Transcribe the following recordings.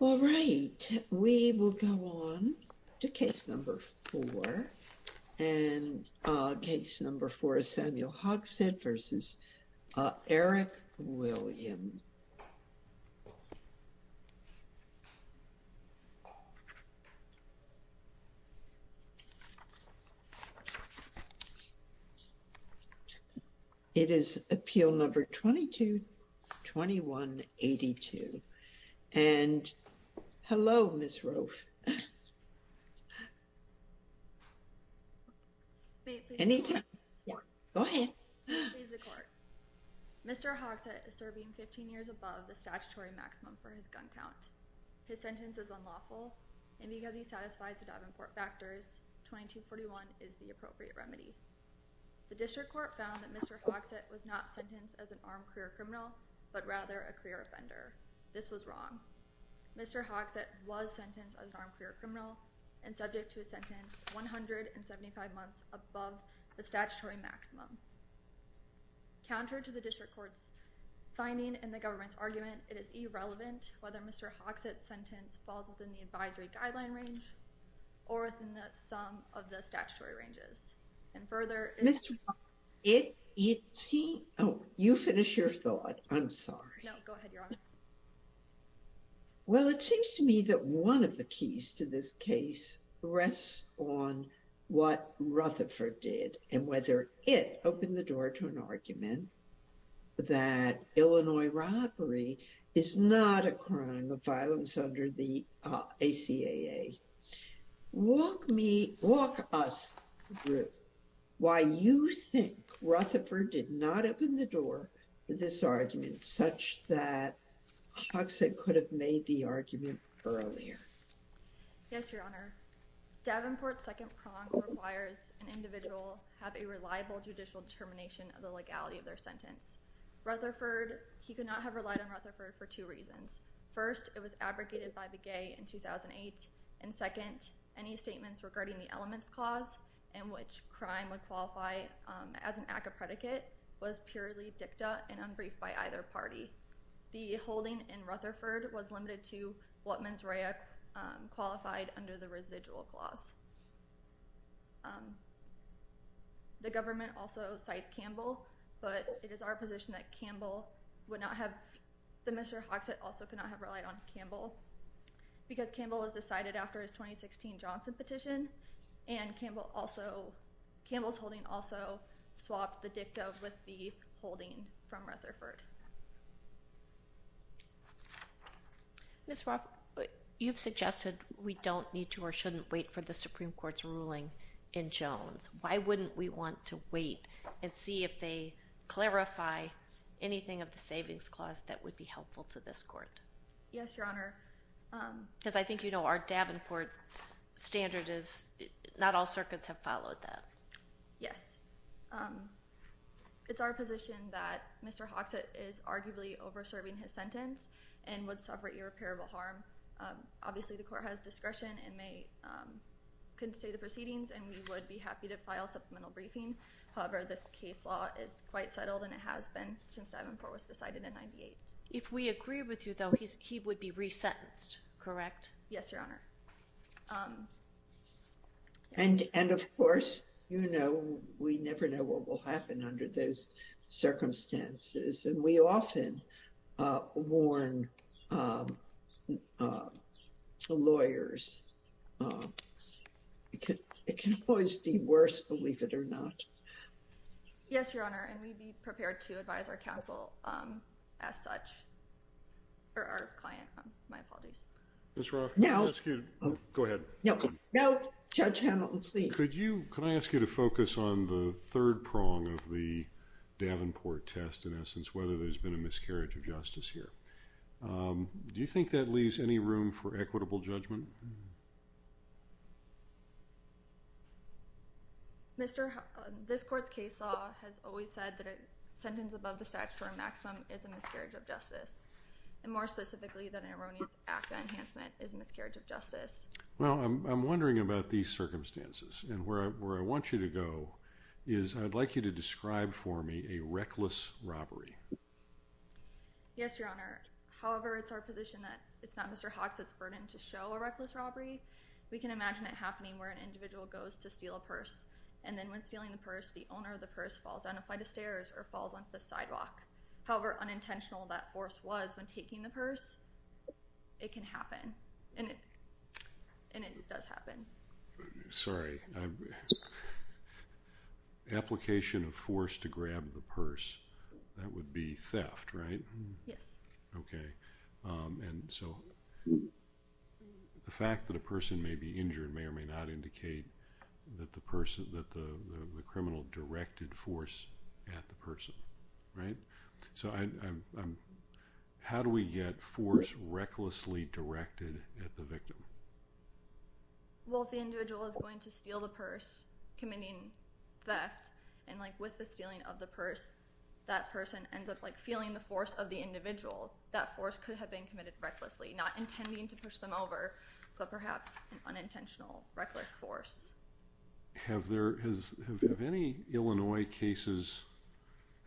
All right, we will go on to case number four. And case number four is Samuel Hogsett v. Eric Williams. It is appeal number 222182. And hello, Ms. Rofe. Mr. Hogsett is serving 15 years above the statutory maximum for his gun count. His sentence is unlawful and because he satisfies the Davenport factors, 2241 is the appropriate remedy. The district court found that Mr. Hogsett was not sentenced as an armed career criminal, but rather a career offender. This was wrong. Mr. Hogsett was sentenced as an armed career criminal and subject to a sentence 175 months above the statutory maximum. Counter to the district court's finding and the government's argument, it is irrelevant whether Mr. Hogsett's sentence falls within the advisory guideline range or within the sum of the statutory ranges. Further, if you see, oh, you finish your thought. I'm sorry. Well, it seems to me that one of the keys to this case rests on what Rutherford did and whether it opened the door to an argument that Illinois robbery is not a crime of violence under the ACAA. Walk me, walk us through why you think Rutherford did not open the door for this argument such that Hogsett could have made the argument earlier. Yes, Your Honor. Davenport's second prong requires an individual have a reliable judicial determination of the legality of their sentence. Rutherford, he could not have relied on Rutherford for two reasons. First, it was fabricated by Begay in 2008. And second, any statements regarding the elements clause in which crime would qualify as an ACAA predicate was purely dicta and unbriefed by either party. The holding in Rutherford was limited to what mens rea qualified under the residual clause. The government also cites Campbell, but it is our position that Campbell would not have, that Mr. Hogsett also could not have relied on Campbell because Campbell was decided after his 2016 Johnson petition and Campbell also, Campbell's holding also swapped the dicta with the holding from Rutherford. Ms. Roth, you've suggested we don't need to or shouldn't wait for the Supreme Court's ruling in Jones. Why wouldn't we want to wait and see if they clarify anything of the savings clause that would be helpful to this court? Yes, Your Honor. Because I think you know our Davenport standard is not all circuits have followed that. Yes. It's our position that Mr. Hogsett is arguably over serving his sentence and would suffer irreparable harm. Obviously, the court has discretion and may, can say the proceedings and we would be happy to file supplemental briefing. However, this case law is quite settled and it has been since Davenport was decided in 98. If we agree with you though, he would be resentenced, correct? Yes, Your Honor. And of course, you know, we never know what will happen under those circumstances and we often warn lawyers. It can always be worse, believe it or not. Yes, Your Honor. And we'd be prepared to advise our counsel as such, or our client. My apologies. Ms. Roth, can I ask you to, go ahead. No, Judge Hamilton, please. Could you, can I ask you to focus on the third prong of the miscarriage of justice here? Do you think that leaves any room for equitable judgment? Mr., this court's case law has always said that a sentence above the statute for a maximum is a miscarriage of justice. And more specifically, that an erroneous act of enhancement is a miscarriage of justice. Well, I'm wondering about these circumstances and where I want you to go is I'd like you to describe for me a reckless robbery. Yes, Your Honor. However, it's our position that it's not Mr. Hawks' burden to show a reckless robbery. We can imagine it happening where an individual goes to steal a purse. And then when stealing the purse, the owner of the purse falls down a flight of stairs or falls onto the sidewalk. However, unintentional that force was when taking the purse, it can happen. And it does happen. Sorry. Application of force to grab the purse, that would be theft, right? Yes. Okay. And so the fact that a person may be injured may or may not indicate that the person, that the criminal directed force at the person, right? So how do we get force recklessly directed at the victim? Well, if the individual is going to steal the purse, committing theft, and like with the stealing of the purse, that person ends up like feeling the force of the individual, that force could have been committed recklessly, not intending to push them over, but perhaps an unintentional reckless force. Have there, have any Illinois cases,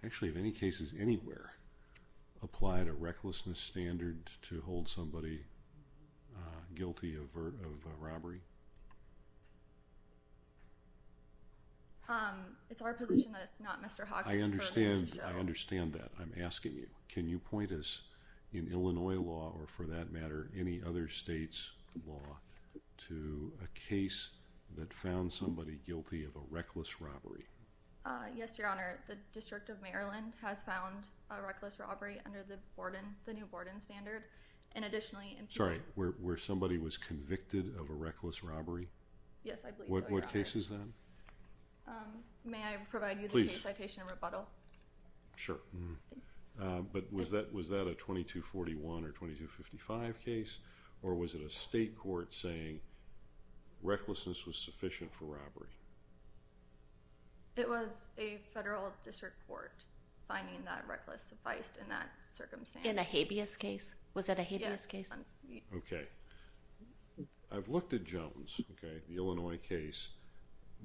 actually have any cases anywhere applied a recklessness standard to hold somebody guilty of robbery? It's our position that it's not Mr. Hawks' burden to show. I understand that. I'm asking you, can you point us in Illinois law or for that matter any other state's law to a case that found somebody guilty of a reckless robbery? Yes, your honor. The District of Maryland has found a reckless robbery under the Borden, the new Borden standard, and additionally. Sorry, where somebody was convicted of a reckless robbery? Yes, I believe so. What case is that? May I provide you the case citation rebuttal? Sure. But was that, was that a 2241 or 2255 case, or was it a state court saying recklessness was sufficient for robbery? It was a federal district court finding that reckless sufficed in that circumstance. In a habeas case? Was that a habeas case? Okay. I've looked at Jones, okay, the Illinois case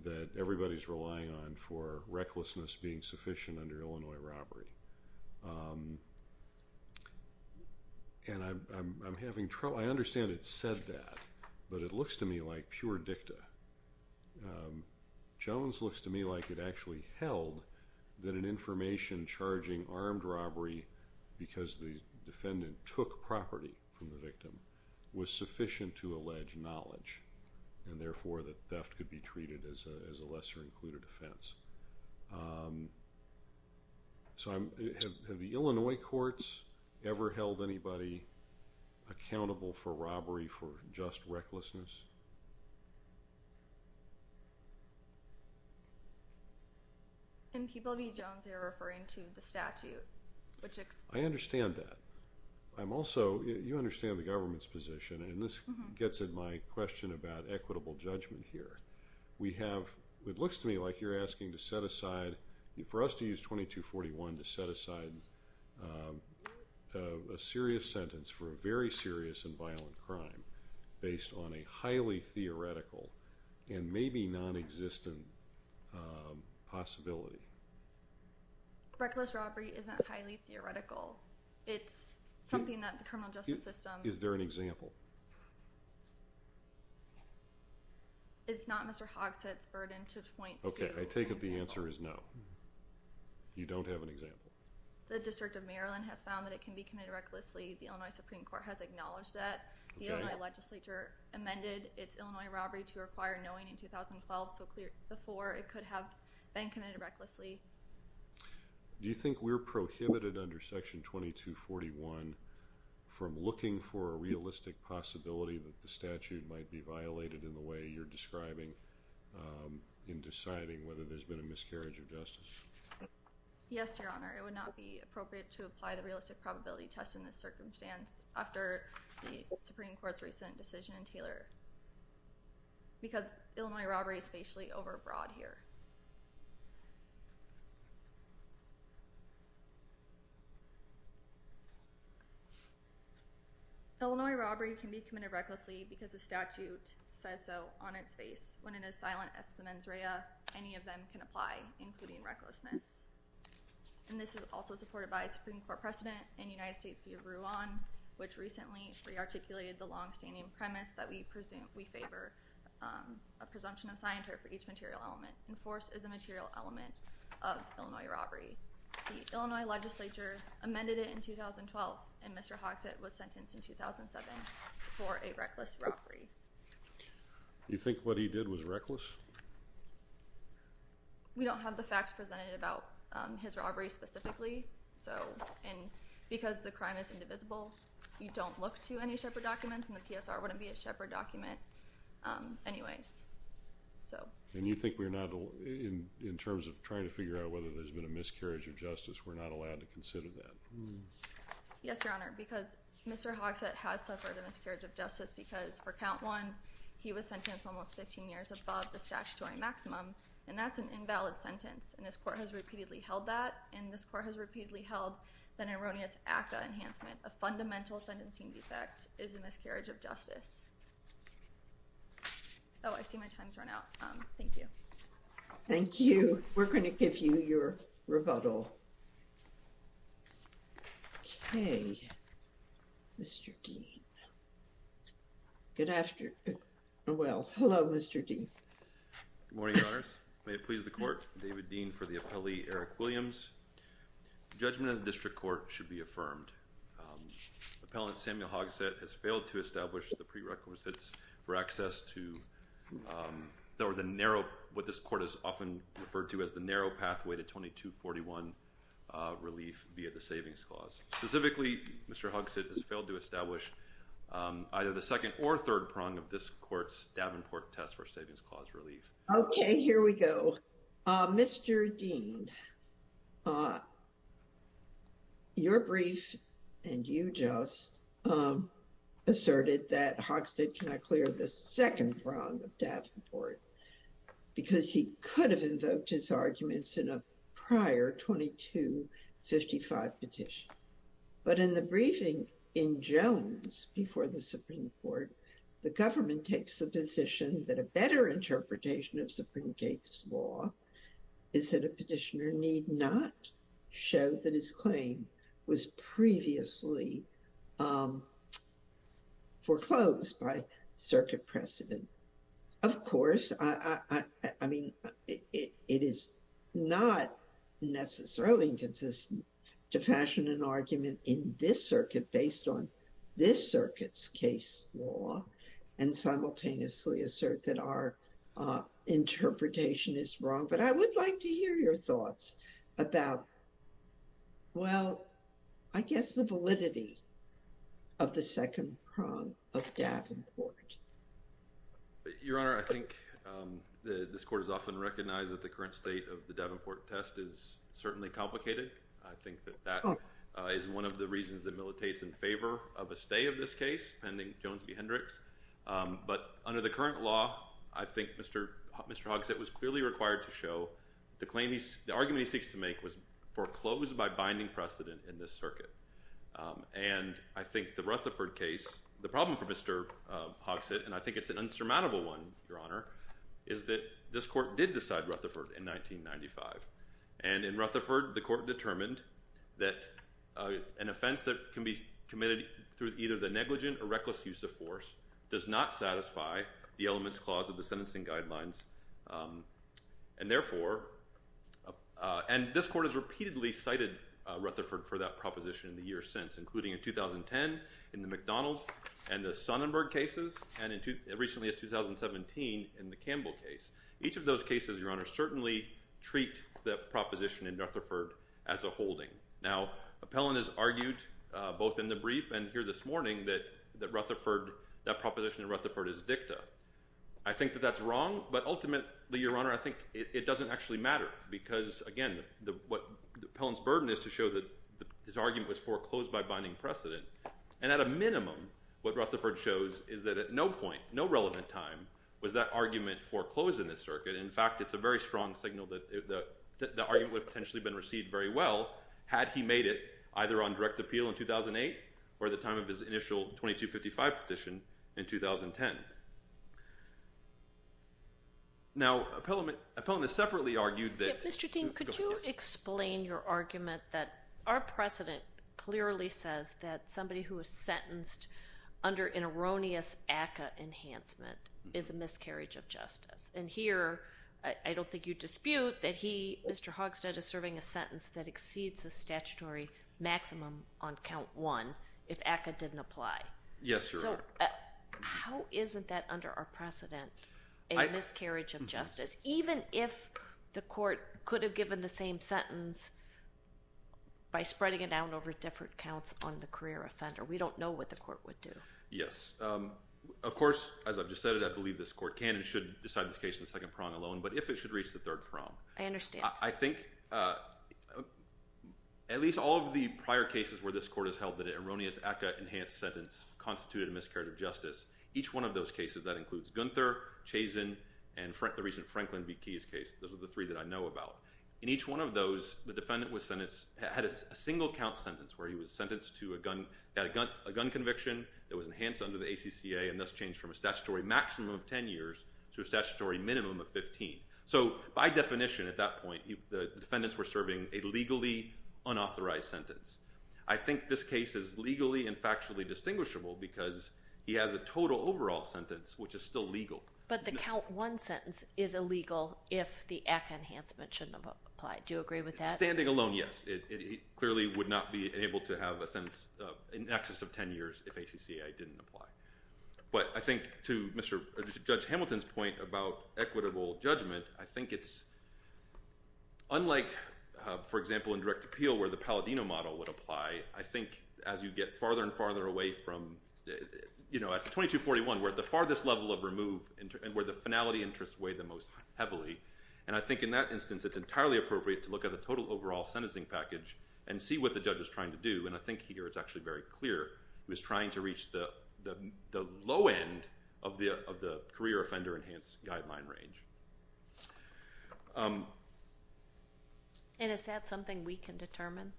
that everybody's relying on for recklessness being sufficient under and I'm having trouble, I understand it said that, but it looks to me like pure dicta. Jones looks to me like it actually held that an information charging armed robbery because the defendant took property from the victim was sufficient to allege knowledge and therefore that theft could be treated as a lesser included offense. So I'm, have the Illinois courts ever held anybody accountable for robbery for just recklessness? In Peabody Jones, they're referring to the statute. I understand that. I'm also, you understand the government's position and this gets at my question about equitable judgment here. We have, it looks to me like you're asking to set aside, for us to use 2241 to set aside a serious sentence for a very serious and violent crime based on a highly theoretical and maybe non-existent possibility. Reckless robbery isn't highly theoretical. It's something that the criminal justice system. Is there an example? It's not Mr. Hogshead's burden to point to. Okay, I take it the answer is no. You don't have an example. The District of Maryland has found that it can be committed recklessly. The Illinois Supreme Court has acknowledged that. The Illinois legislature amended its Illinois robbery to require knowing in 2012 so clear before it could have been recklessly. Do you think we're prohibited under section 2241 from looking for a realistic possibility that the statute might be violated in the way you're describing in deciding whether there's been a miscarriage of justice? Yes, your honor. It would not be appropriate to apply the realistic probability test in this circumstance after the Supreme Court's recent decision in Taylor because Illinois robbery is facially overbroad here. Illinois robbery can be committed recklessly because the statute says so on its face when it is silent as the mens rea. Any of them can apply including recklessness and this is also supported by a Supreme Court precedent in United States v. Ruan which recently re-articulated the long-standing premise that we presume we favor a presumption of scienter for each material element enforced as a material element of Illinois robbery. The Illinois legislature amended it in 2012 and Mr. Hogsett was sentenced in 2007 for a reckless robbery. You think what he did was reckless? We don't have the facts presented about his robbery specifically so and because the crime is indivisible you don't look to any shepherd documents and the PSR wouldn't be a shepherd document anyways. And you think we're not in in terms of trying to figure out whether there's been a miscarriage of justice we're not allowed to consider that? Yes your honor because Mr. Hogsett has suffered a miscarriage of justice because for count one he was sentenced almost 15 years above the statutory maximum and that's an invalid sentence and this court has repeatedly held that and this court has repeatedly held that erroneous ACCA enhancement a fundamental sentencing defect is a miscarriage of justice. Oh I see my time's run out um thank you. Thank you we're going to give you your rebuttal. Okay Mr. Dean good afternoon well hello Mr. Dean. Good morning your honors may it please the court David Dean for the appellee Eric Williams. The judgment of the district court should be affirmed appellant Samuel Hogsett has failed to establish the prerequisites for access to or the narrow what this court is often referred to as the narrow pathway to 2241 relief via the savings clause. Specifically Mr. Hogsett has failed to establish either the second or third prong of this court's Davenport test for savings clause relief. Okay here we go. Mr. Dean your brief and you just asserted that Hogsett cannot clear the second prong of Davenport because he could have invoked his arguments in a prior 2255 petition but in the briefing in Jones before the Supreme Court the government takes the position that a better interpretation of Supreme Court's law is that a petitioner need not show that his claim was previously foreclosed by circuit precedent. Of course I mean it is not necessarily inconsistent to fashion an argument in this circuit based on this circuit's case law and simultaneously assert that our interpretation is wrong but I would like to hear your thoughts about well I guess the validity of the second prong of Davenport. Your honor I think this court is often recognized that the current state of the Davenport test is certainly complicated. I think that that is one of the reasons that militates in favor of a stay of this case pending Jones v Hendricks but under the current law I think Mr. Mr. Hogsett was clearly required to show the claim he's the argument he seeks to make was foreclosed by binding precedent in this circuit and I think the Rutherford case the problem for Mr. Hogsett and I think it's an insurmountable one your honor is that this court did decide Rutherford in 1995 and in Rutherford the court determined that an offense that can be committed through either the negligent or reckless use of force does not satisfy the elements clause of the sentencing guidelines and therefore and this court has repeatedly cited Rutherford for that proposition in the years since including in 2010 in the McDonald's and the Sonnenberg cases and in recently as 2017 in the Campbell case each of those cases your honor certainly treat the proposition in Rutherford as a holding now appellant has argued both in the brief and here this morning that that Rutherford that proposition in Rutherford is dicta. I think that that's wrong but ultimately your honor I think it doesn't actually matter because again the what the appellant's burden is to show that this argument was foreclosed by binding precedent and at a minimum what Rutherford shows is that at no point no relevant time was that argument foreclosed in this circuit in fact it's a very strong signal that the argument would potentially been received very well had he made it either on direct appeal in 2008 or the time of his initial 2255 petition in 2010. Now appellant is separately argued that Mr. Dean could you explain your argument that our precedent clearly says that somebody who was sentenced under an erroneous ACCA enhancement is a miscarriage of justice and here I don't think you dispute that he Mr. Hogshead is serving a sentence that exceeds the statutory maximum on count one if ACCA didn't apply. Yes your honor. So how isn't that under our precedent a miscarriage of justice even if the court could have given the same sentence by spreading it down over different counts on the career offender we don't know what the court would do. Yes of course as I've just said it I believe this court can and should decide this case in the second prong alone but if it should reach the third prong. I understand. I think at least all of the prior cases where this court has held that an erroneous ACCA enhanced sentence constituted a miscarriage of justice each one of those cases that includes Gunther, Chazen and the recent Franklin v. Keyes case those are the three that I know about. In each one of those the defendant was sentenced had a single count sentence where he was sentenced to a gun conviction that was enhanced under the ACCA and thus changed from a statutory maximum of 10 years to a statutory minimum of 15. So by definition at that point the defendants were serving a legally unauthorized sentence. I think this case is legally and factually distinguishable because he has a total overall sentence which is still legal. But the count one sentence is illegal if the ACCA enhancement shouldn't apply. Do you agree with that? Standing alone yes it clearly would not be able to have a sentence in excess of 10 years if ACCA didn't apply. But I think to Mr. Judge Hamilton's point about equitable judgment I think it's unlike for example in direct appeal where the Palladino model would apply I think as you get farther and farther away from you know at the 2241 where the farthest level of remove and where the finality interests weigh the most heavily and I think in that instance it's entirely appropriate to look at the total overall sentencing package and see what the judge is trying to do and I think here it's actually very clear he was trying to reach the low end of the career offender enhanced guideline range. And is that something we can determine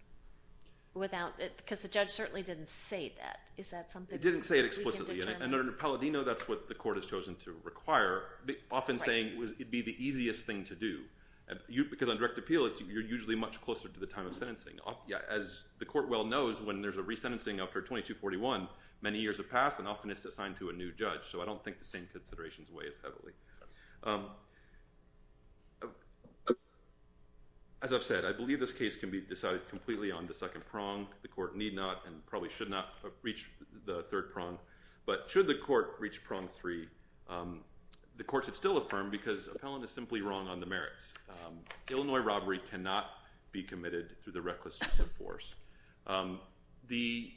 without it because the judge certainly didn't say that. It didn't say it explicitly and under Palladino that's what the court has chosen to require often saying it would be the easiest thing to do because on direct appeal it's you're usually much closer to the time of sentencing. As the court well knows when there's a resentencing after 2241 many years have passed and often it's assigned to a new judge so I don't think the same considerations weigh as heavily. As I've said I believe this case can be decided completely on reach the third prong but should the court reach prong three the courts have still affirmed because appellant is simply wrong on the merits. Illinois robbery cannot be committed through the reckless use of force. The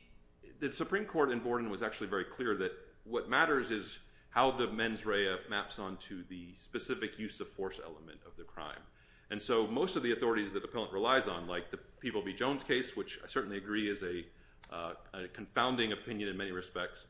supreme court in Borden was actually very clear that what matters is how the mens rea maps onto the specific use of force element of the crime and so most of the authorities that a confounding opinion in many respects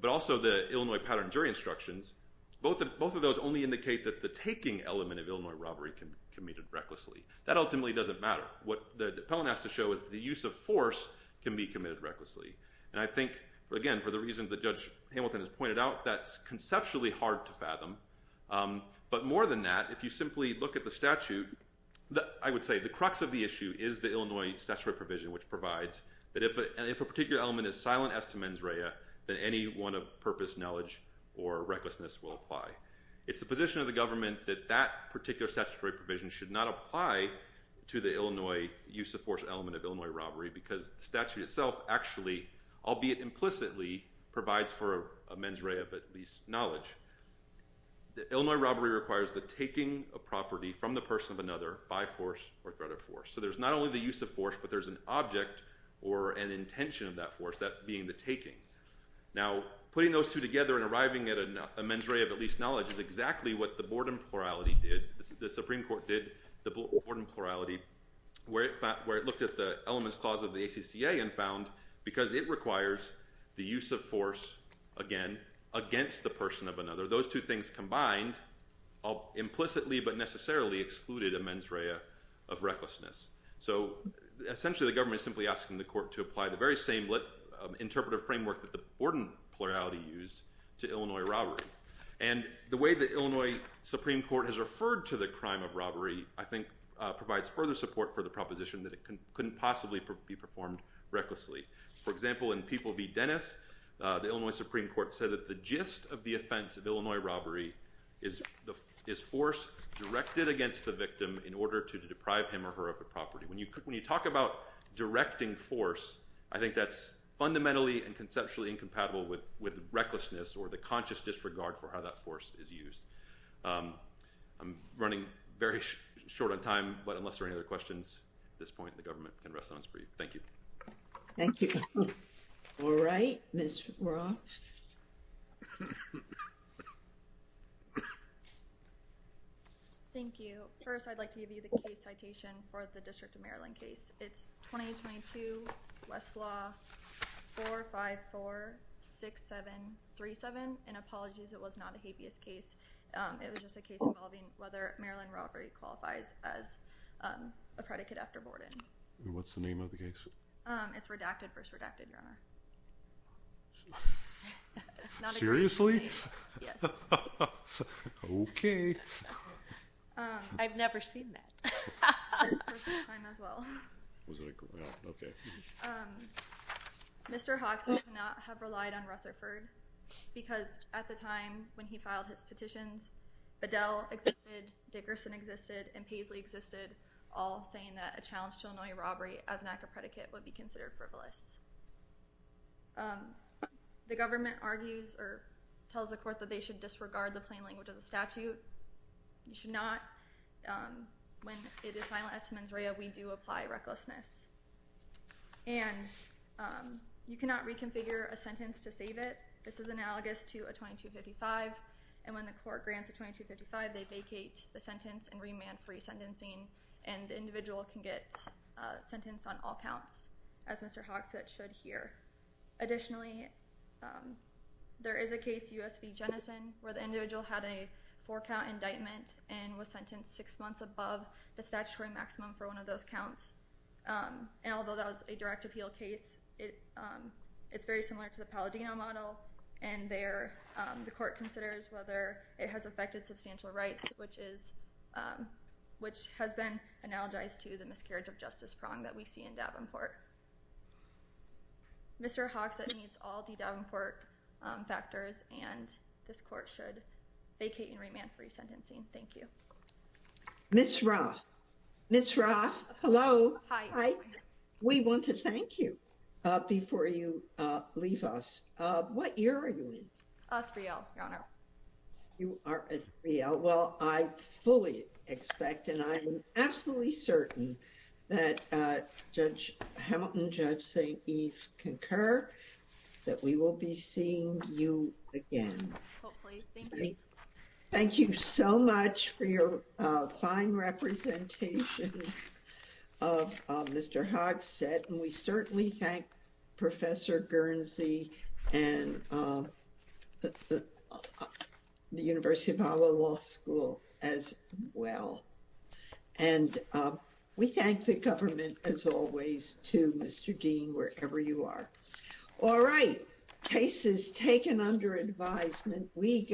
but also the Illinois pattern jury instructions both of those only indicate that the taking element of Illinois robbery can be committed recklessly. That ultimately doesn't matter what the appellant has to show is the use of force can be committed recklessly and I think again for the reasons that Judge Hamilton has pointed out that's conceptually hard to fathom but more than that if you simply look at the statute that I would say the crux of the issue is the Illinois statutory provision which provides that if a particular element is silent as to mens rea then any one of purpose knowledge or recklessness will apply. It's the position of the government that that particular statutory provision should not apply to the Illinois use of force element of Illinois robbery because the statute itself actually albeit implicitly provides for a mens rea of at least knowledge. The Illinois robbery requires the taking of property from the person of another by force or threat of force. So there's not only the use of force but there's an object or an intention of that force that being the taking. Now putting those two together and arriving at a mens rea of at least knowledge is exactly what the board and plurality did. The Supreme Court did the board and plurality where it found where it looked at the elements clause of the ACCA and found because it requires the use of force again against the person of another those two things combined implicitly but necessarily excluded a mens rea of recklessness. So essentially the government is simply asking the court to apply the very same interpretive framework that the board and plurality used to Illinois robbery. And the way the Illinois Supreme Court has referred to the crime of robbery I think provides further support for the proposition that it couldn't possibly be performed recklessly. For example in People v. Dennis the Illinois Supreme Court said that the gist of the offense of Illinois robbery is the is force directed against the victim in order to deprive him or her of the property. When you when you talk about directing force I think that's fundamentally and conceptually incompatible with with recklessness or the conscious disregard for how that force is used. I'm running very short on time but unless there any other questions at this point the government can rest on its breath. Thank you. Thank you. All right Ms. Ross. Thank you. First I'd like to give you the case citation for the District of Maryland case. It's 20-22 Westlaw 4546737 and apologies it was not a habeas case. It was just a case involving whether Maryland robbery qualifies as a predicate after Borden. What's the name of the case? It's redacted versus redacted your honor. Seriously? Yes. Okay. I've never seen that. Mr. Hawks would not have relied on Rutherford because at the time when he filed his petitions Bedell existed, Dickerson existed, and Paisley existed all saying that a challenge to Illinois robbery as an act of predicate would be considered frivolous. The government argues or tells the court that they should disregard the plain language of the statute. You should not when it is finalized to mens rea we do apply recklessness and you cannot reconfigure a sentence to save it. This is analogous to a 2255 and when the court grants a 2255 they vacate the sentence and remand free sentencing and the individual can get sentenced on all counts as Mr. Hawks that should hear. Additionally there is a case U.S. v. Jennison where the individual had a four count indictment and was sentenced six months above the statutory maximum for one of those counts and although that was a direct appeal case it's very similar to the Palladino model and there the court considers whether it has affected substantial rights which is which has been analogized to the miscarriage of justice prong that we see in Davenport. Mr. Hawks that meets all the Davenport factors and this court should vacate and remand free hi we want to thank you uh before you uh leave us uh what year are you in? uh 3L your honor. You are at 3L well I fully expect and I am absolutely certain that uh Judge Hamilton, Judge St. Eve concur that we will be seeing you again. Hopefully. Thanks. Thank you so much for your uh fine representation of uh Mr. Hawks said and we certainly thank Professor Guernsey and uh the University of Iowa Law School as well and uh we thank the government as always too Mr. Dean wherever you are. All right cases taken under advisement we go